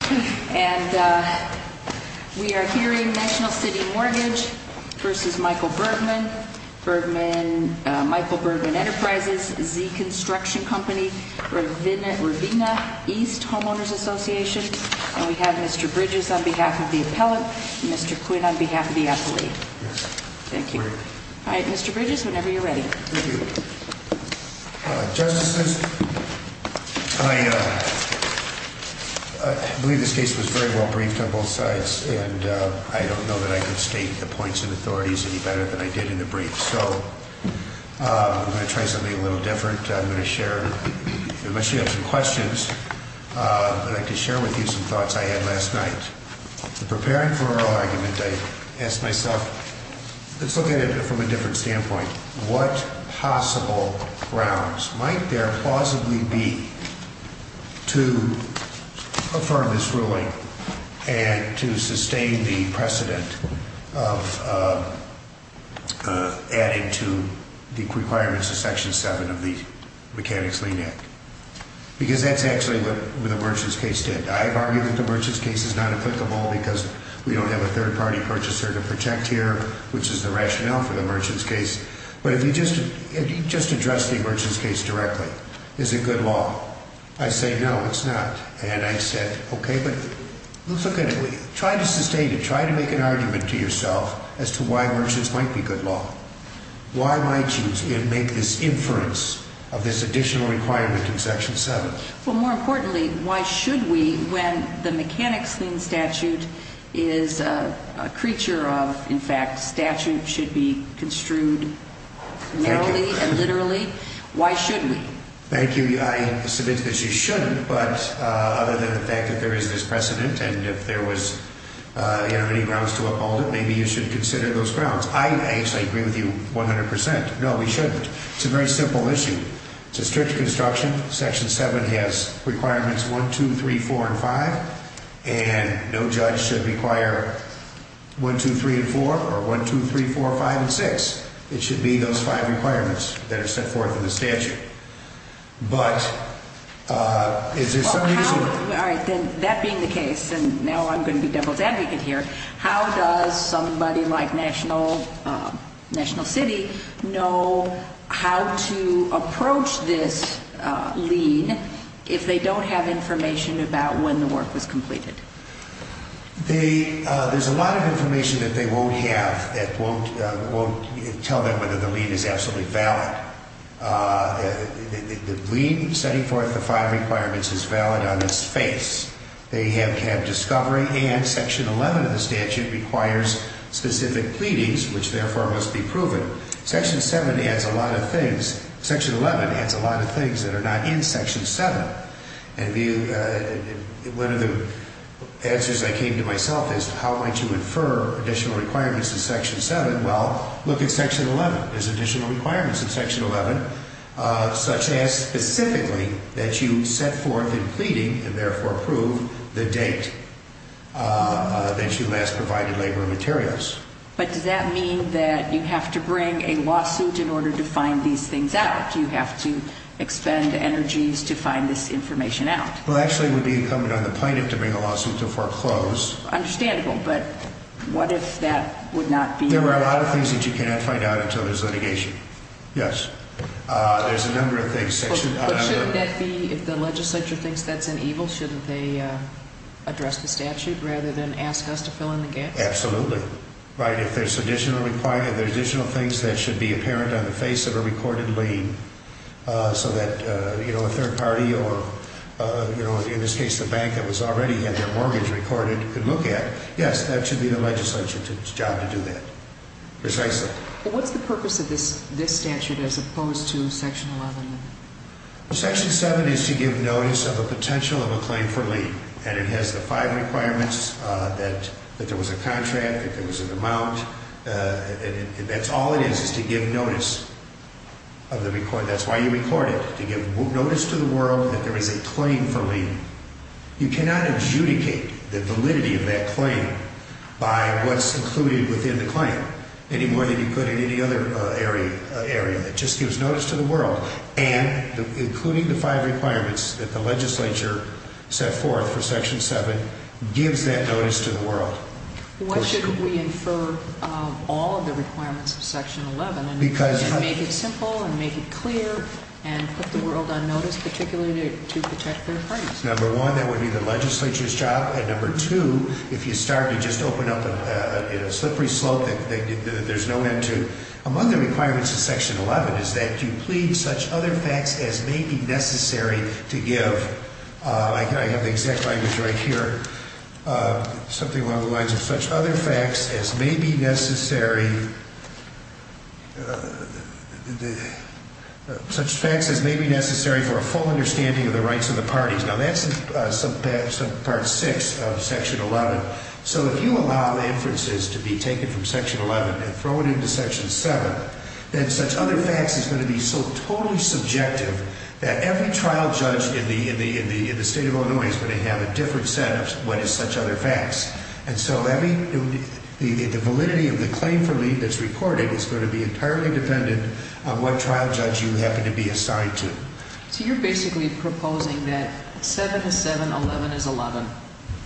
And we are hearing National City Mortgage v. Michael Bergman, Michael Bergman Enterprises, Z Construction Company, Ravina East Homeowners Association. And we have Mr. Bridges on behalf of the appellant, Mr. Quinn on behalf of the appellee. Thank you. Mr. Bridges, whenever you're ready. Thank you. Justices, I believe this case was very well briefed on both sides, and I don't know that I could state the points and authorities any better than I did in the brief. So I'm going to try something a little different. I'm going to share, unless you have some questions, but I'd like to share with you some thoughts I had last night. In preparing for our argument, I asked myself, let's look at it from a different standpoint. What possible grounds might there plausibly be to affirm this ruling and to sustain the precedent of adding to the requirements of Section 7 of the Mechanics-Lean Act? Because that's actually what the merchants case did. I've argued that the merchants case is not applicable because we don't have a third-party purchaser to protect here, which is the rationale for the merchants case. But if you just address the merchants case directly, is it good law? I say, no, it's not. And I said, okay, but let's look at it. Try to sustain it. Try to make an argument to yourself as to why merchants might be good law. Why might you make this inference of this additional requirement in Section 7? Well, more importantly, why should we, when the Mechanics-Lean Statute is a creature of, in fact, statute should be construed narrowly and literally, why should we? Thank you. I submit that you shouldn't, but other than the fact that there is this precedent and if there was any grounds to uphold it, maybe you should consider those grounds. I actually agree with you 100%. No, we shouldn't. It's a very simple issue. It's a strict construction. Section 7 has requirements 1, 2, 3, 4, and 5. And no judge should require 1, 2, 3, and 4 or 1, 2, 3, 4, 5, and 6. It should be those five requirements that are set forth in the statute. But is there some reason? All right. That being the case, and now I'm going to be devil's advocate here, how does somebody like National City know how to approach this lead if they don't have information about when the work was completed? There's a lot of information that they won't have that won't tell them whether the lead is absolutely valid. The lead setting forth the five requirements is valid on its face. They have discovery and Section 11 of the statute requires specific pleadings, which therefore must be proven. Section 7 adds a lot of things. Section 11 adds a lot of things that are not in Section 7. And one of the answers I came to myself is how am I to infer additional requirements in Section 7? Well, look at Section 11. There's additional requirements in Section 11 such as specifically that you set forth in pleading and therefore prove the date that you last provided labor and materials. But does that mean that you have to bring a lawsuit in order to find these things out? Does that mean that you have to expend energies to find this information out? Well, actually, it would be incumbent on the plaintiff to bring a lawsuit to foreclose. Understandable. But what if that would not be? There are a lot of things that you cannot find out until there's litigation. Yes. There's a number of things. But shouldn't that be if the legislature thinks that's an evil, shouldn't they address the statute rather than ask us to fill in the gaps? Absolutely. Right. If there's additional requirement, there's additional things that should be apparent on the face of a recorded lien so that, you know, a third party or, you know, in this case the bank that was already had their mortgage recorded could look at. Yes, that should be the legislature's job to do that. Precisely. What's the purpose of this statute as opposed to Section 11? Section 7 is to give notice of a potential of a claim for lien. And it has the five requirements that there was a contract, that there was an amount, and that's all it is, is to give notice of the record. That's why you record it, to give notice to the world that there is a claim for lien. You cannot adjudicate the validity of that claim by what's included within the claim any more than you could in any other area that just gives notice to the world. And including the five requirements that the legislature set forth for Section 7 gives that notice to the world. Why shouldn't we infer all of the requirements of Section 11 and make it simple and make it clear and put the world on notice, particularly to protect their claims? Number one, that would be the legislature's job. And number two, if you start to just open up a slippery slope that there's no end to. Among the requirements of Section 11 is that you plead such other facts as may be necessary to give. I have the exact language right here. Something along the lines of such other facts as may be necessary for a full understanding of the rights of the parties. Now, that's part six of Section 11. So if you allow the inferences to be taken from Section 11 and throw it into Section 7, then such other facts is going to be so totally subjective that every trial judge in the State of Illinois is going to have a different set of what is such other facts. And so the validity of the claim for lien that's recorded is going to be entirely dependent on what trial judge you happen to be assigned to. So you're basically proposing that 7 is 7, 11 is 11.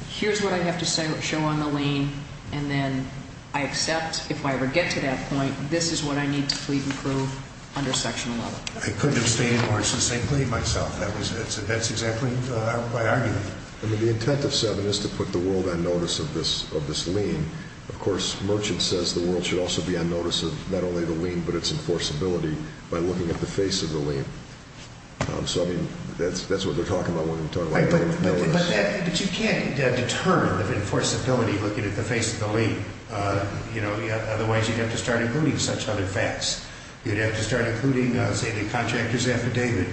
Here's what I have to show on the lien, and then I accept, if I ever get to that point, this is what I need to plead and prove under Section 11. I couldn't have stated more succinctly myself. That's exactly my argument. The intent of 7 is to put the world on notice of this lien. And, of course, Merchant says the world should also be on notice of not only the lien but its enforceability by looking at the face of the lien. So, I mean, that's what they're talking about when they talk about it. But you can't determine the enforceability looking at the face of the lien. You know, otherwise you'd have to start including such other facts. You'd have to start including, say, the contractor's affidavit.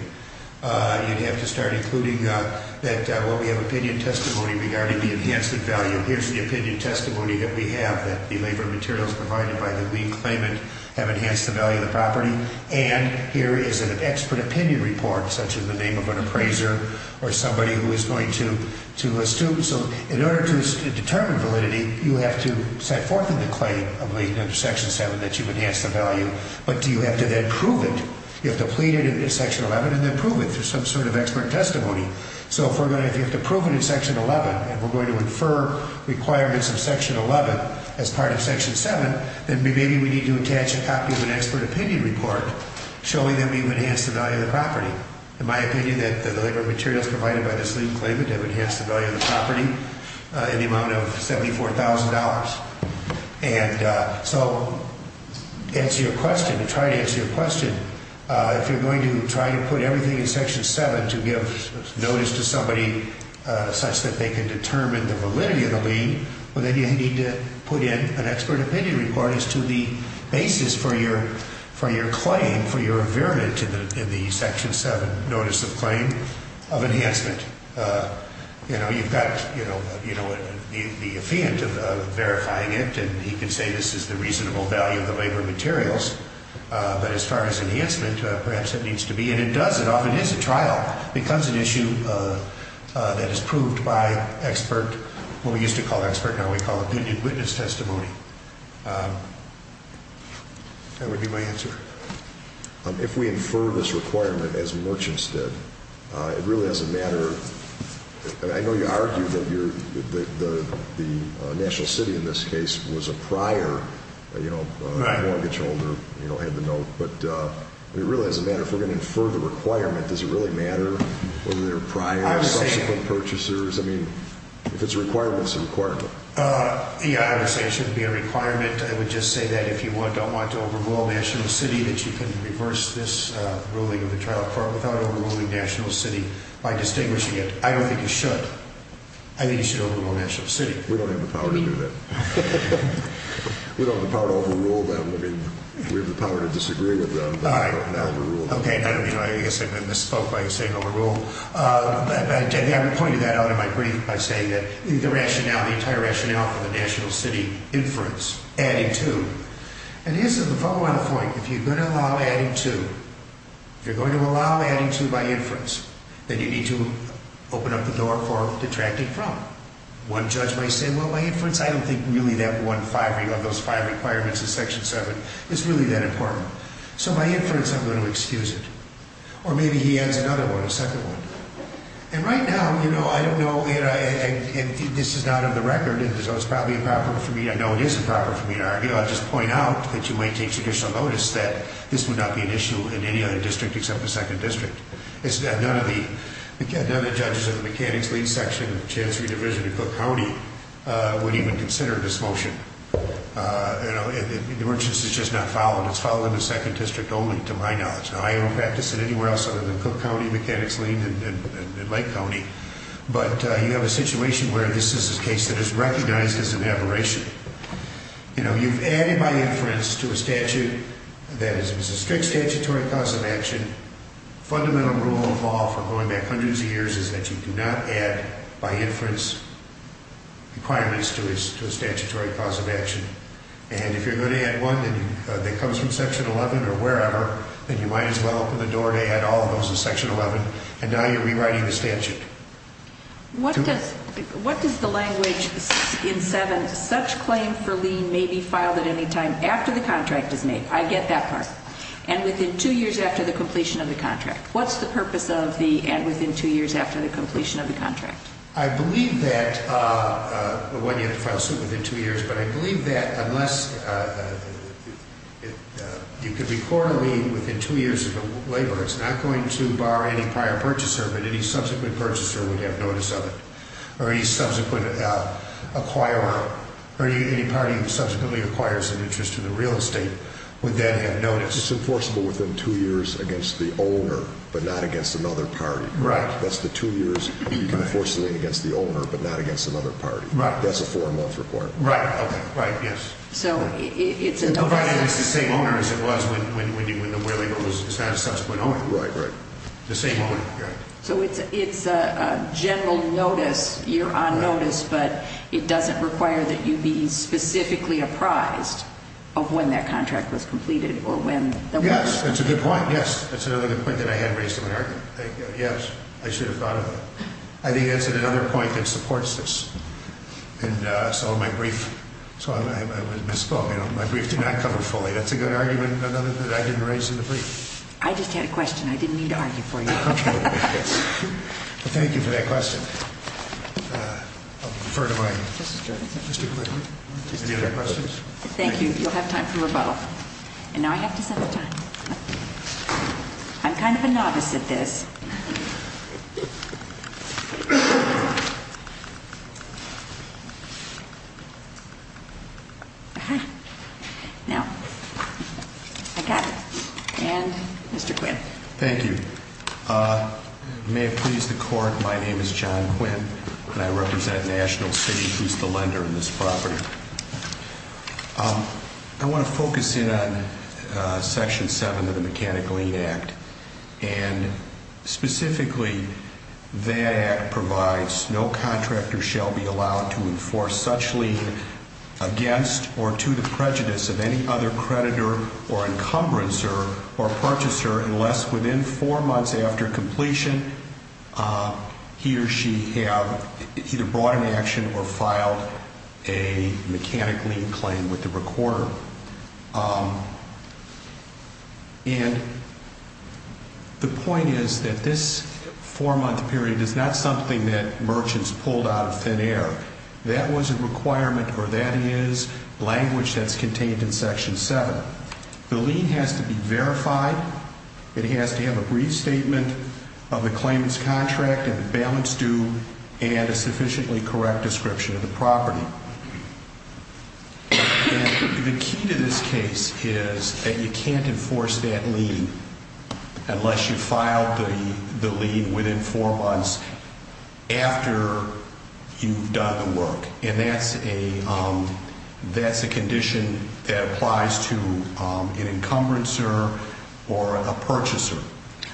You'd have to start including that, well, we have opinion testimony regarding the enhancement value. Here's the opinion testimony that we have that the labor materials provided by the lien claimant have enhanced the value of the property. And here is an expert opinion report, such as the name of an appraiser or somebody who is going to assume. So in order to determine validity, you have to set forth in the claim of Section 7 that you've enhanced the value. But do you have to then prove it? You have to plead it in Section 11 and then prove it through some sort of expert testimony. So if you have to prove it in Section 11 and we're going to infer requirements of Section 11 as part of Section 7, then maybe we need to attach a copy of an expert opinion report showing that we've enhanced the value of the property. In my opinion, that the labor materials provided by this lien claimant have enhanced the value of the property in the amount of $74,000. And so to answer your question, to try to answer your question, if you're going to try to put everything in Section 7 to give notice to somebody such that they can determine the validity of the lien, well, then you need to put in an expert opinion report as to the basis for your claim, for your environment in the Section 7 Notice of Claim of Enhancement. You know, you've got, you know, the affiant verifying it, and he can say this is the reasonable value of the labor materials. But as far as enhancement, perhaps it needs to be, and it does. It often is a trial. It becomes an issue that is proved by expert, what we used to call expert, now we call it opinion witness testimony. That would be my answer. If we infer this requirement as merchants did, it really doesn't matter. I know you argued that the national city in this case was a prior, you know, mortgage holder, you know, had the note. But it really doesn't matter. If we're going to infer the requirement, does it really matter whether they're prior or subsequent purchasers? I mean, if it's a requirement, it's a requirement. Yeah, I would say it shouldn't be a requirement. I would just say that if you don't want to overrule national city, that you can reverse this ruling of the trial court without overruling national city by distinguishing it. I don't think you should. I think you should overrule national city. We don't have the power to do that. We don't have the power to overrule them. I mean, we have the power to disagree with them, but I don't have the power to overrule them. Okay. I guess I misspoke by saying overrule. I pointed that out in my brief by saying that the rationale, the entire rationale for the national city inference, adding to. And here's the follow-on point. If you're going to allow adding to, if you're going to allow adding to by inference, then you need to open up the door for detracting from. One judge might say, well, by inference, I don't think really that one five, you know, those five requirements in Section 7 is really that important. So by inference, I'm going to excuse it. Or maybe he adds another one, a second one. And right now, you know, I don't know. And this is not on the record. And so it's probably improper for me. I know it is improper for me to argue. I'll just point out that you might take traditional notice that this would not be an issue in any other district except the second district. None of the judges of the Mechanics Lead Section of the Chancery Division in Cook County would even consider this motion. You know, it's just not followed. It's followed in the second district only to my knowledge. Now, I don't practice it anywhere else other than Cook County Mechanics Lead and Lake County. But you have a situation where this is a case that is recognized as an aberration. You know, you've added by inference to a statute that is a strict statutory cause of action. Fundamental rule of law for going back hundreds of years is that you do not add by inference requirements to a statutory cause of action. And if you're going to add one that comes from Section 11 or wherever, then you might as well open the door and add all of those to Section 11. And now you're rewriting the statute. What does the language in 7, such claim for lien may be filed at any time after the contract is made? I get that part. And within two years after the completion of the contract. What's the purpose of the and within two years after the completion of the contract? I believe that you have to file a suit within two years. But I believe that unless you could be quarterly within two years of labor, it's not going to bar any prior purchaser. But any subsequent purchaser would have notice of it. Or any subsequent acquirer or any party that subsequently acquires an interest in the real estate would then have notice. It's enforceable within two years against the owner, but not against another party. Right. That's the two years you can enforce it against the owner, but not against another party. Right. That's a four-month requirement. Right. Okay. Right. Yes. So it's a notice. Provided it's the same owner as it was when the where labor was not a subsequent owner. Right. Right. The same owner. Right. So it's a general notice. You're on notice, but it doesn't require that you be specifically apprised of when that contract was completed or when. Yes. That's a good point. Yes. That's another good point that I had raised in my argument. Yes. I should have thought of that. I think that's another point that supports this. And so my brief, so I misspoke. My brief did not cover fully. That's a good argument, another that I didn't raise in the brief. I just had a question. I didn't mean to argue for you. Okay. Thank you for that question. I'll defer to my Mr. Clinton. Any other questions? Thank you. You'll have time for them both. And now I have to set a time. I'm kind of a novice at this. Now, I got it. And Mr. Quinn. Thank you. May it please the Court, my name is John Quinn, and I represent National City, who's the lender on this property. I want to focus in on Section 7 of the Mechanic Lien Act. And specifically, that act provides no contractor shall be allowed to enforce such lien against or to the prejudice of any other creditor or encumbrancer or purchaser unless within four months after completion he or she have either brought an action or filed a mechanic lien claim with the recorder. And the point is that this four-month period is not something that merchants pulled out of thin air. That was a requirement, or that is language that's contained in Section 7. The lien has to be verified. It has to have a brief statement of the claimant's contract and the balance due and a sufficiently correct description of the property. And the key to this case is that you can't enforce that lien unless you file the lien within four months after you've done the work. And that's a condition that applies to an encumbrancer or a purchaser.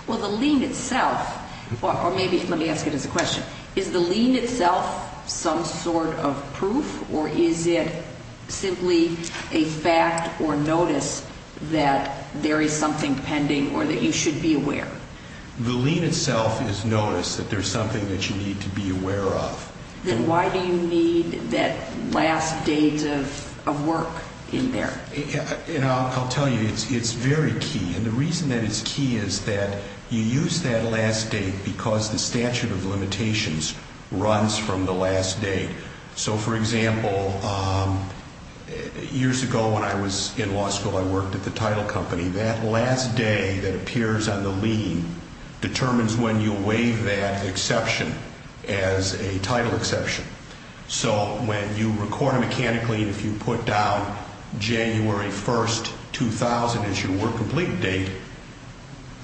Well, the lien itself, or maybe let me ask it as a question. Is the lien itself some sort of proof, or is it simply a fact or notice that there is something pending or that you should be aware? The lien itself is notice that there's something that you need to be aware of. Then why do you need that last date of work in there? And I'll tell you, it's very key. And the reason that it's key is that you use that last date because the statute of limitations runs from the last date. So, for example, years ago when I was in law school, I worked at the title company. That last day that appears on the lien determines when you waive that exception as a title exception. So when you record a mechanic lien, if you put down January 1st, 2000 as your work complete date,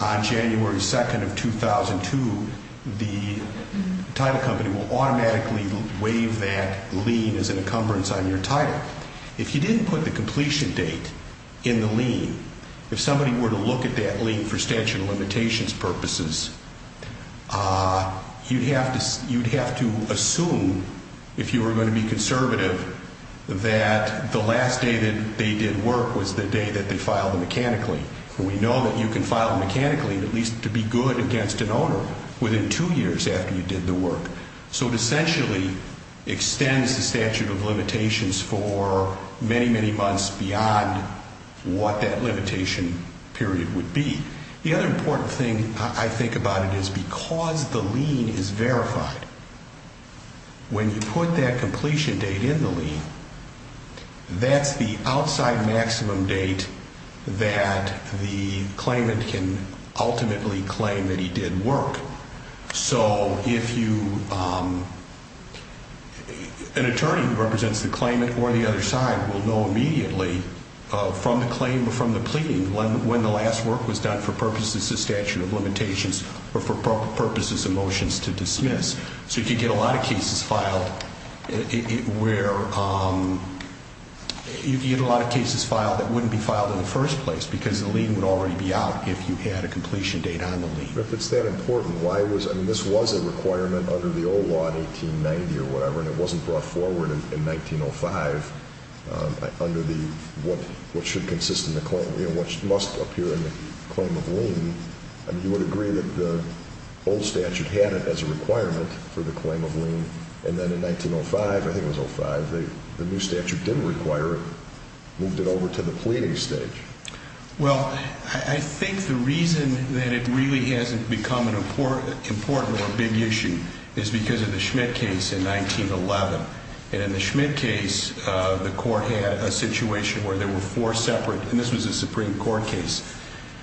on January 2nd of 2002, the title company will automatically waive that lien as an encumbrance on your title. If you didn't put the completion date in the lien, if somebody were to look at that lien for statute of limitations purposes, you'd have to assume, if you were going to be conservative, that the last day that they did work was the day that they filed the mechanic lien. And we know that you can file a mechanic lien at least to be good against an owner within two years after you did the work. So it essentially extends the statute of limitations for many, many months beyond what that limitation period would be. The other important thing I think about it is because the lien is verified, when you put that completion date in the lien, that's the outside maximum date that the claimant can ultimately claim that he did work. So if you, an attorney who represents the claimant or the other side will know immediately from the claim or from the pleading when the last work was done for purposes of statute of limitations or for purposes of motions to dismiss. So you can get a lot of cases filed where, you can get a lot of cases filed that wouldn't be filed in the first place because the lien would already be out if you had a completion date on the lien. But if it's that important, why was, I mean this was a requirement under the old law in 1890 or whatever and it wasn't brought forward in 1905 under the, what should consist in the claim, you know, what must appear in the claim of lien. I mean you would agree that the old statute had it as a requirement for the claim of lien and then in 1905, I think it was 05, the new statute didn't require it, moved it over to the pleading stage. Well, I think the reason that it really hasn't become an important or a big issue is because of the Schmidt case in 1911. And in the Schmidt case, the court had a situation where there were four separate, and this was a Supreme Court case,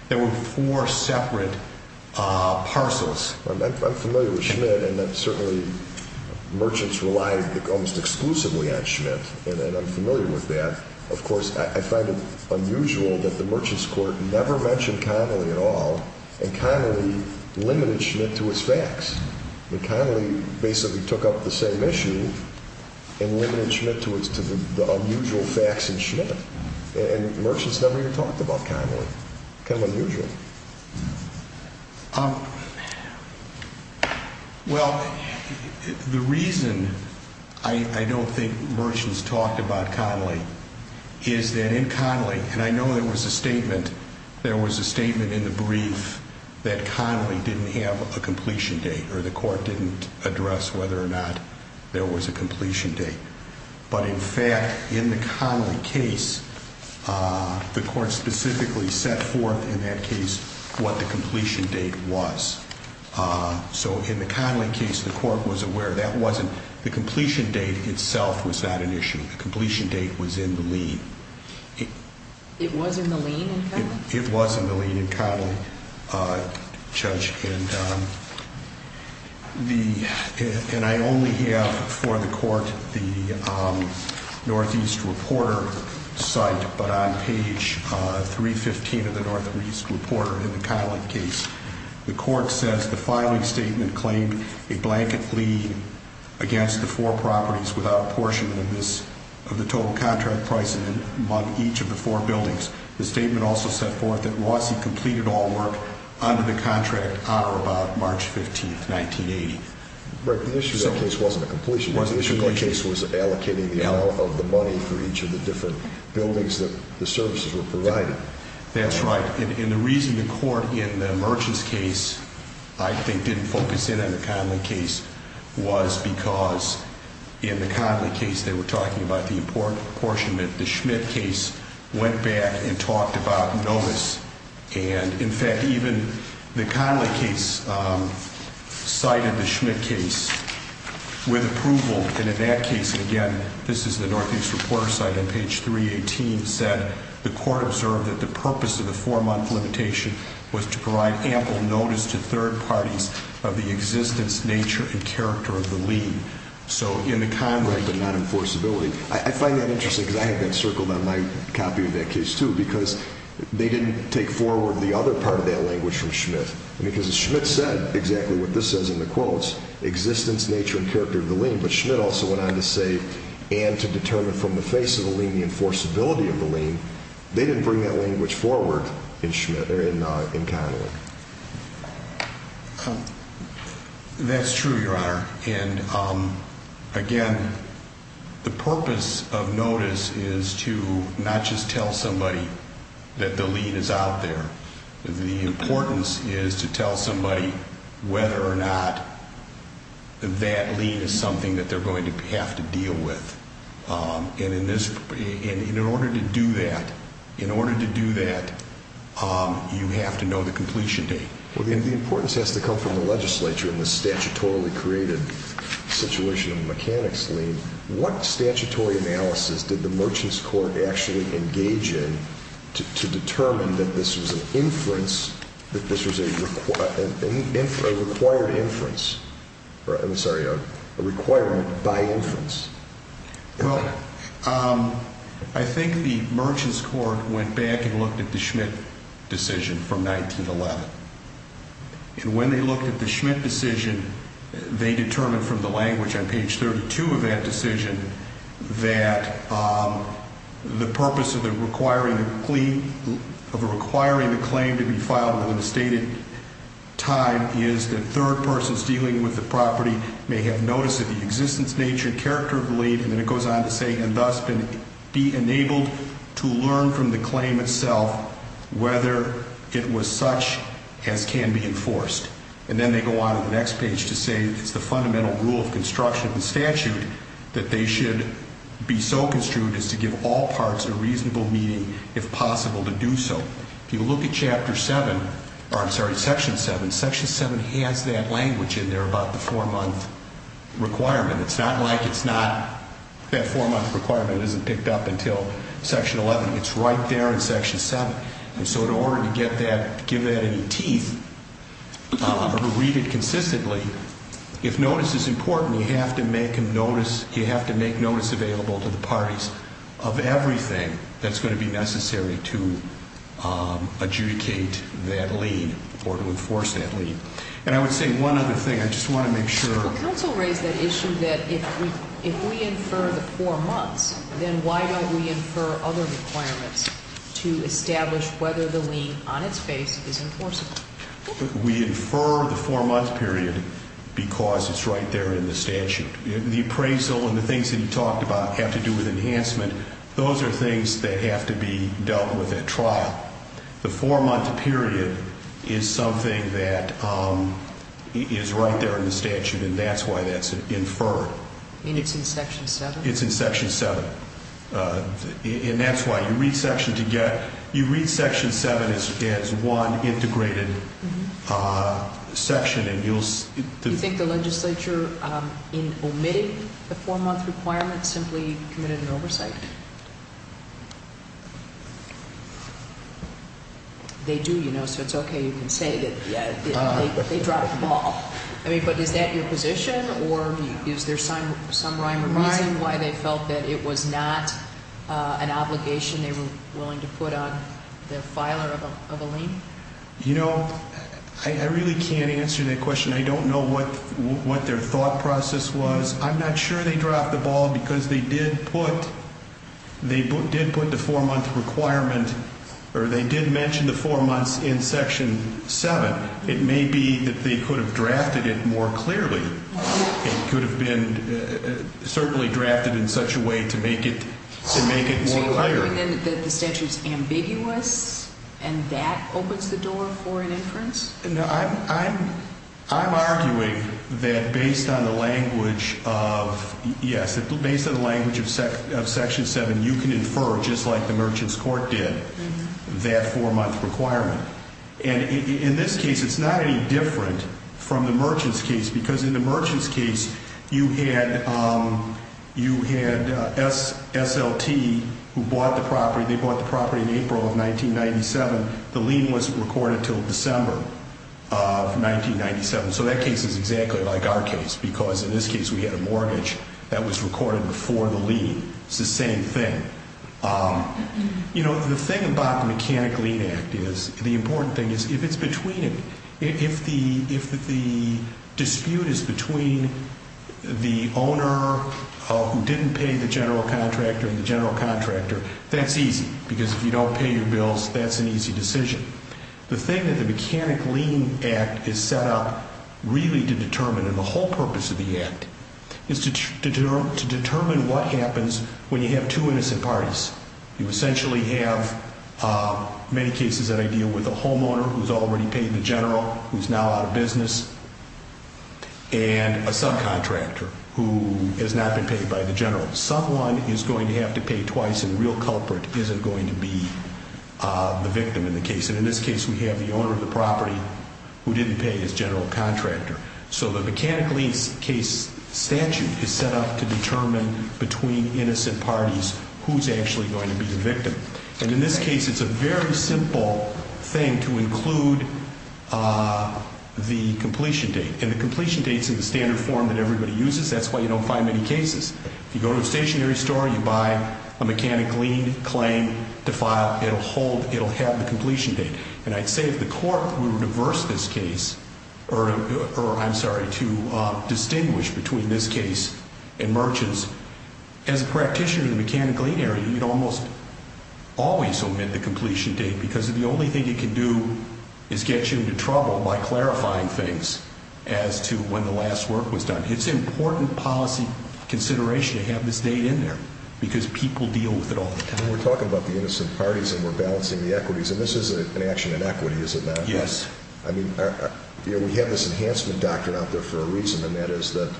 there were four separate parcels. I'm familiar with Schmidt and certainly merchants relied almost exclusively on Schmidt and I'm familiar with that. Of course, I find it unusual that the merchants court never mentioned Connolly at all and Connolly limited Schmidt to his facts. Connolly basically took up the same issue and limited Schmidt to the unusual facts in Schmidt. And merchants never even talked about Connolly. Kind of unusual. Well, the reason I don't think merchants talked about Connolly is that in Connolly, and I know there was a statement, there was a statement in the brief that Connolly didn't have a completion date or the court didn't address whether or not there was a completion date. But in fact, in the Connolly case, the court specifically set forth in that case what the completion date was. So in the Connolly case, the court was aware that wasn't, the completion date itself was not an issue. The completion date was in the lien. It was in the lien in Connolly? Judge, and I only have for the court the Northeast reporter site, but on page 315 of the Northeast reporter in the Connolly case, the court says the filing statement claimed a blanket lien against the four properties without apportionment of the total contract price among each of the four buildings. The statement also set forth that Rossi completed all work under the contract on or about March 15th, 1980. But the issue in that case wasn't a completion date. The issue in that case was allocating the amount of the money for each of the different buildings that the services were providing. That's right. And the reason the court in the merchants case, I think, didn't focus in on the Connolly case was because in the Connolly case they were talking about the important portion that the Schmidt case went back and talked about notice. And in fact, even the Connolly case cited the Schmidt case with approval. And in that case, again, this is the Northeast reporter site on page 318, said the court observed that the purpose of the four-month limitation was to provide ample notice to third parties of the existence, nature, and character of the lien. So in the Connolly, but not enforceability, I find that interesting because I have been circled on my copy of that case, too, because they didn't take forward the other part of that language from Schmidt. Because Schmidt said exactly what this says in the quotes, existence, nature, and character of the lien. But Schmidt also went on to say and to determine from the face of the lien the enforceability of the lien. They didn't bring that language forward in Connolly. That's true, Your Honor. And, again, the purpose of notice is to not just tell somebody that the lien is out there. The importance is to tell somebody whether or not that lien is something that they're going to have to deal with. And in order to do that, in order to do that, you have to know the completion date. Well, the importance has to come from the legislature in the statutorily created situation of a mechanics lien. What statutory analysis did the Merchants Court actually engage in to determine that this was an inference, that this was a required inference? I'm sorry, a requirement by inference. Well, I think the Merchants Court went back and looked at the Schmidt decision from 1911. And when they looked at the Schmidt decision, they determined from the language on page 32 of that decision that the purpose of requiring a claim to be filed within a stated time is that third persons dealing with the property may have notice of the existence, nature, and character of the lien. And then it goes on to say, and thus be enabled to learn from the claim itself whether it was such as can be enforced. And then they go on to the next page to say it's the fundamental rule of construction of the statute that they should be so construed as to give all parts a reasonable meaning, if possible, to do so. If you look at Chapter 7, or I'm sorry, Section 7, Section 7 has that language in there about the four-month requirement. It's not like it's not that four-month requirement isn't picked up until Section 11. It's right there in Section 7. And so in order to get that, give that any teeth or read it consistently, if notice is important, you have to make notice available to the parties of everything that's going to be necessary to adjudicate that lien or to enforce that lien. And I would say one other thing. I just want to make sure. Counsel raised that issue that if we infer the four months, then why don't we infer other requirements to establish whether the lien on its face is enforceable? We infer the four-month period because it's right there in the statute. The appraisal and the things that you talked about have to do with enhancement. Those are things that have to be dealt with at trial. The four-month period is something that is right there in the statute, and that's why that's inferred. You mean it's in Section 7? It's in Section 7. And that's why. You read Section 7 as one integrated section. You think the legislature, in omitting the four-month requirement, simply committed an oversight? They do, you know, so it's okay. You can say that they dropped the ball. I mean, but is that your position, or is there some rhyme or reason why they felt that it was not an obligation they were willing to put on the filer of a lien? You know, I really can't answer that question. I don't know what their thought process was. I'm not sure they dropped the ball because they did put the four-month requirement, or they did mention the four months in Section 7. It may be that they could have drafted it more clearly. It could have been certainly drafted in such a way to make it more clear. Are you arguing then that the statute is ambiguous and that opens the door for an inference? No, I'm arguing that based on the language of, yes, based on the language of Section 7, you can infer, just like the Merchant's Court did, that four-month requirement. And in this case, it's not any different from the Merchant's case because in the Merchant's case, you had SLT who bought the property. They bought the property in April of 1997. The lien was recorded until December of 1997. So that case is exactly like our case because in this case, we had a mortgage that was recorded before the lien. It's the same thing. You know, the thing about the Mechanic Lien Act is the important thing is if it's between, if the dispute is between the owner who didn't pay the general contractor and the general contractor, that's easy because if you don't pay your bills, that's an easy decision. The thing that the Mechanic Lien Act is set up really to determine, and the whole purpose of the act, is to determine what happens when you have two innocent parties. You essentially have many cases that I deal with a homeowner who's already paid the general, who's now out of business, and a subcontractor who has not been paid by the general. Someone is going to have to pay twice and the real culprit isn't going to be the victim in the case. And in this case, we have the owner of the property who didn't pay his general contractor. So the Mechanic Lien case statute is set up to determine between innocent parties who's actually going to be the victim. And in this case, it's a very simple thing to include the completion date. And the completion date's in the standard form that everybody uses. That's why you don't find many cases. You go to a stationery store, you buy a Mechanic Lien claim to file, it'll hold, it'll have the completion date. And I'd say if the court were to reverse this case, or I'm sorry, to distinguish between this case and merchants, as a practitioner in the Mechanic Lien area, you'd almost always omit the completion date because the only thing you can do is get you into trouble by clarifying things as to when the last work was done. It's important policy consideration to have this date in there because people deal with it all the time. And we're talking about the innocent parties and we're balancing the equities. And this is an action in equity, is it not? Yes. I mean, you know, we have this enhancement doctrine out there for a reason, and that is that,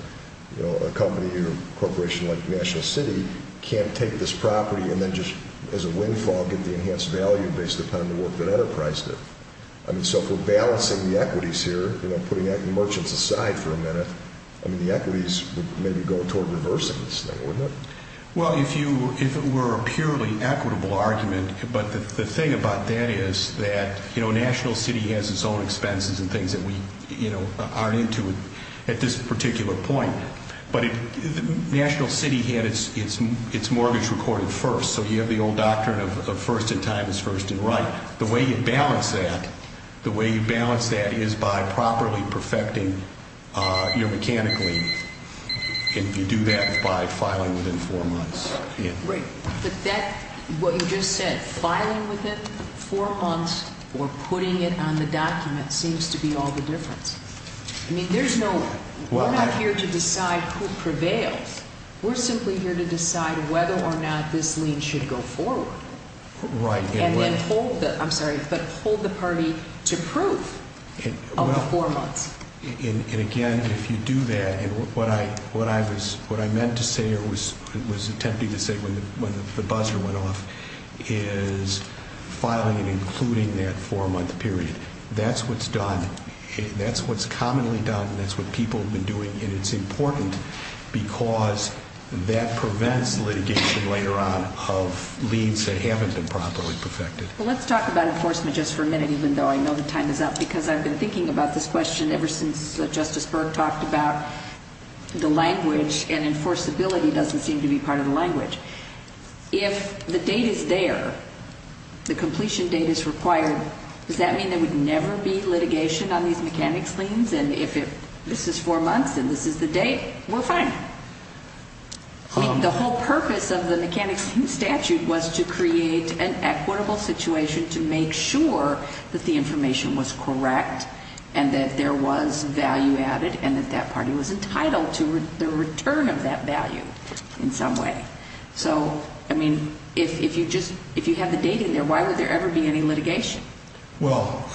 you know, a company or corporation like National City can't take this property and then just as a windfall get the enhanced value based upon the work that enterprised it. I mean, so if we're balancing the equities here, you know, putting merchants aside for a minute, I mean, the equities would maybe go toward reversing this thing, wouldn't it? Well, if it were a purely equitable argument, but the thing about that is that, you know, National City has its own expenses and things that we, you know, aren't into at this particular point. But National City had its mortgage recorded first, so you have the old doctrine of first in time is first in right. The way you balance that, the way you balance that is by properly perfecting your mechanical lien. And you do that by filing within four months. Right. But that, what you just said, filing within four months or putting it on the document seems to be all the difference. I mean, there's no, we're not here to decide who prevails. We're simply here to decide whether or not this lien should go forward. Right. And then hold the, I'm sorry, but hold the party to proof of the four months. And again, if you do that, and what I meant to say or was attempting to say when the buzzer went off, is filing and including that four-month period. That's what's done. That's what's commonly done. That's what people have been doing. And it's important because that prevents litigation later on of liens that haven't been properly perfected. Well, let's talk about enforcement just for a minute, even though I know the time is up, because I've been thinking about this question ever since Justice Burke talked about the language, and enforceability doesn't seem to be part of the language. If the date is there, the completion date is required, does that mean there would never be litigation on these mechanics liens? And if this is four months and this is the date, we're fine. The whole purpose of the mechanics statute was to create an equitable situation to make sure that the information was correct and that there was value added and that that party was entitled to the return of that value in some way. So, I mean, if you have the date in there, why would there ever be any litigation? Well,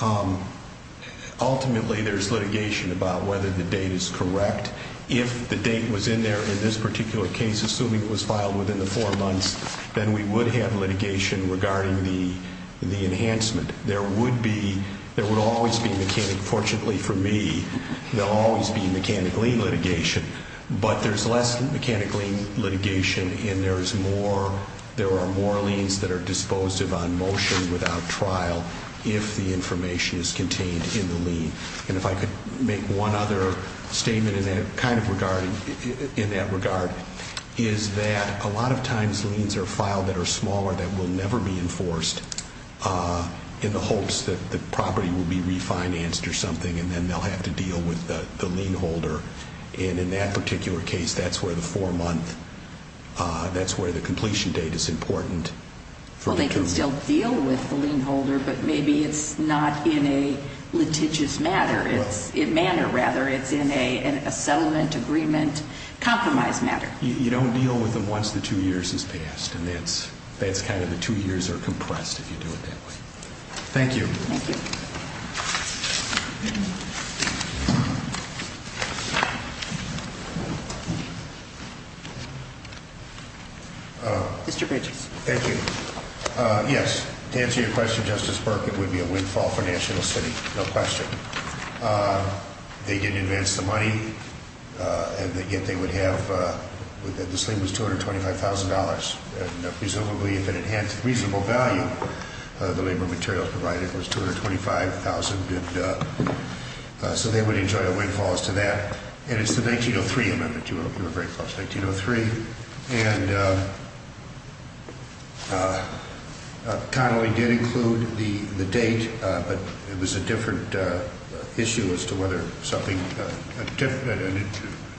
ultimately there's litigation about whether the date is correct. If the date was in there in this particular case, assuming it was filed within the four months, then we would have litigation regarding the enhancement. There would always be mechanic, fortunately for me, there will always be mechanic lien litigation, but there's less mechanic lien litigation and there are more liens that are disposed of on motion without trial if the information is contained in the lien. And if I could make one other statement in that regard, is that a lot of times liens are filed that are smaller that will never be enforced in the hopes that the property will be refinanced or something and then they'll have to deal with the lien holder. And in that particular case, that's where the four-month, that's where the completion date is important. Well, they can still deal with the lien holder, but maybe it's not in a litigious manner. It's in a settlement agreement compromise matter. You don't deal with them once the two years has passed and that's kind of the two years are compressed if you do it that way. Thank you. Thank you. Mr. Bridges. Thank you. Yes. To answer your question, Justice Burke, it would be a windfall for National City, no question. They didn't advance the money and yet they would have, this lien was $225,000. And presumably if it enhanced reasonable value, the labor materials provided was $225,000. So they would enjoy a windfall as to that. And it's the 1903 amendment. You were very close, 1903. And Connolly did include the date, but it was a different issue as to whether something, a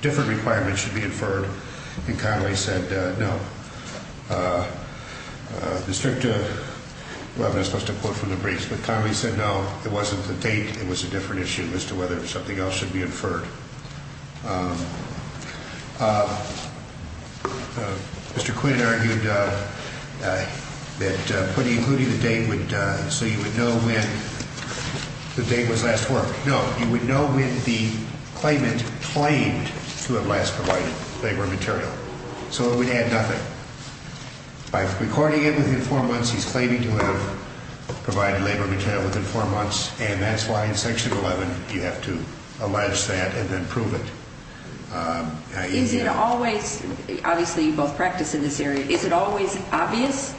different requirement should be inferred. And Connolly said no. The district, well, I'm not supposed to quote from the briefs, but Connolly said no, it wasn't the date. It was a different issue as to whether something else should be inferred. Mr. Quinn argued that including the date would, so you would know when the date was last worked. No, you would know when the claimant claimed to have last provided labor material. So it would add nothing. By recording it within four months, he's claiming to have provided labor material within four months. And that's why in Section 11 you have to allege that and then prove it. Is it always, obviously you both practice in this area, is it always obvious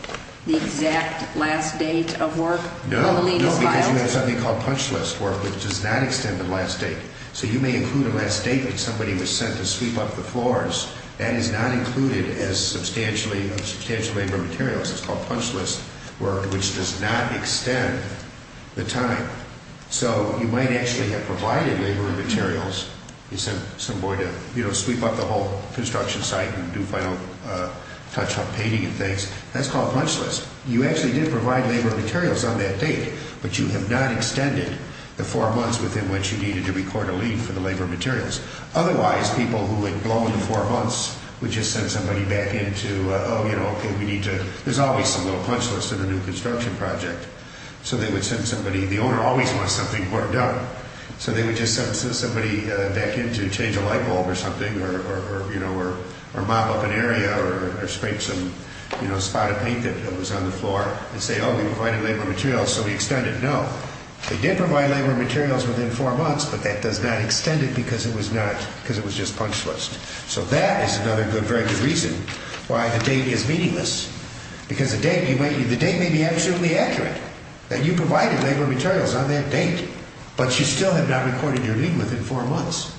the exact last date of work when the lien is filed? No, no, because you have something called punch list work which does not extend the last date. So you may include a last date when somebody was sent to sweep up the floors. That is not included as substantial labor materials. It's called punch list work which does not extend the time. So you might actually have provided labor materials. You sent some boy to sweep up the whole construction site and do final touch-up painting and things. That's called punch list. You actually did provide labor materials on that date, but you have not extended the four months within which you needed to record a lien for the labor materials. Otherwise, people who had blown the four months would just send somebody back in to, oh, you know, okay, we need to, there's always some little punch list in a new construction project. So they would send somebody, the owner always wants something worked out. So they would just send somebody back in to change a light bulb or something or, you know, or mop up an area or scrape some, you know, spot of paint that was on the floor and say, oh, we provided labor materials, so we extend it. No. They did provide labor materials within four months, but that does not extend it because it was not, because it was just punch list. So that is another good, very good reason why the date is meaningless. Because the date, the date may be absolutely accurate that you provided labor materials on that date, but you still have not recorded your lien within four months.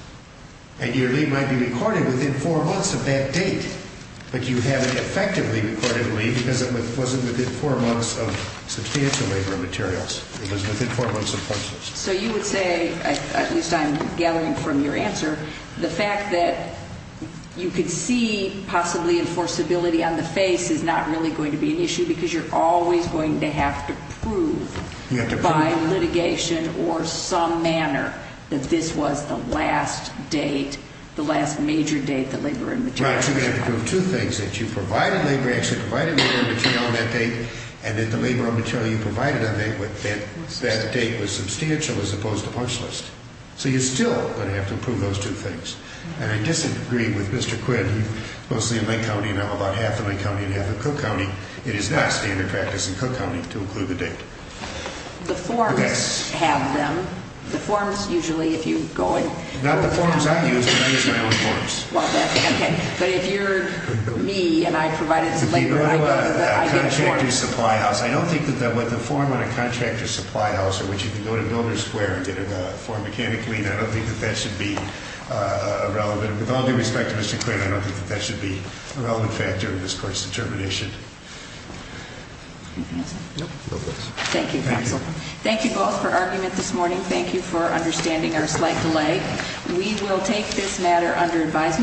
And your lien might be recorded within four months of that date, but you haven't effectively recorded a lien because it wasn't within four months of substantial labor and materials. It was within four months of punch list. So you would say, at least I'm gathering from your answer, the fact that you could see possibly enforceability on the face is not really going to be an issue because you're always going to have to prove by litigation or some manner that this was the last date, the last major date that labor and materials were issued. In other words, you're going to have to prove two things, that you provided labor, actually provided labor and material on that date, and that the labor and material you provided on that date was substantial as opposed to punch list. So you're still going to have to prove those two things. And I disagree with Mr. Quinn. He's mostly in Lake County and I'm about half in Lake County and half in Cook County. It is not standard practice in Cook County to include the date. The forms have them. The forms usually, if you go in. Not the forms I use, but I use my own forms. But if you're me and I provided labor, I get a form. I don't think that the form on a contractor's supply house, which you can go to Builder Square and get a form mechanically, I don't think that that should be relevant. With all due respect to Mr. Quinn, I don't think that that should be a relevant factor in this court's determination. Thank you, counsel. Thank you both for argument this morning. Thank you for understanding our slight delay. We will take this matter under advisement.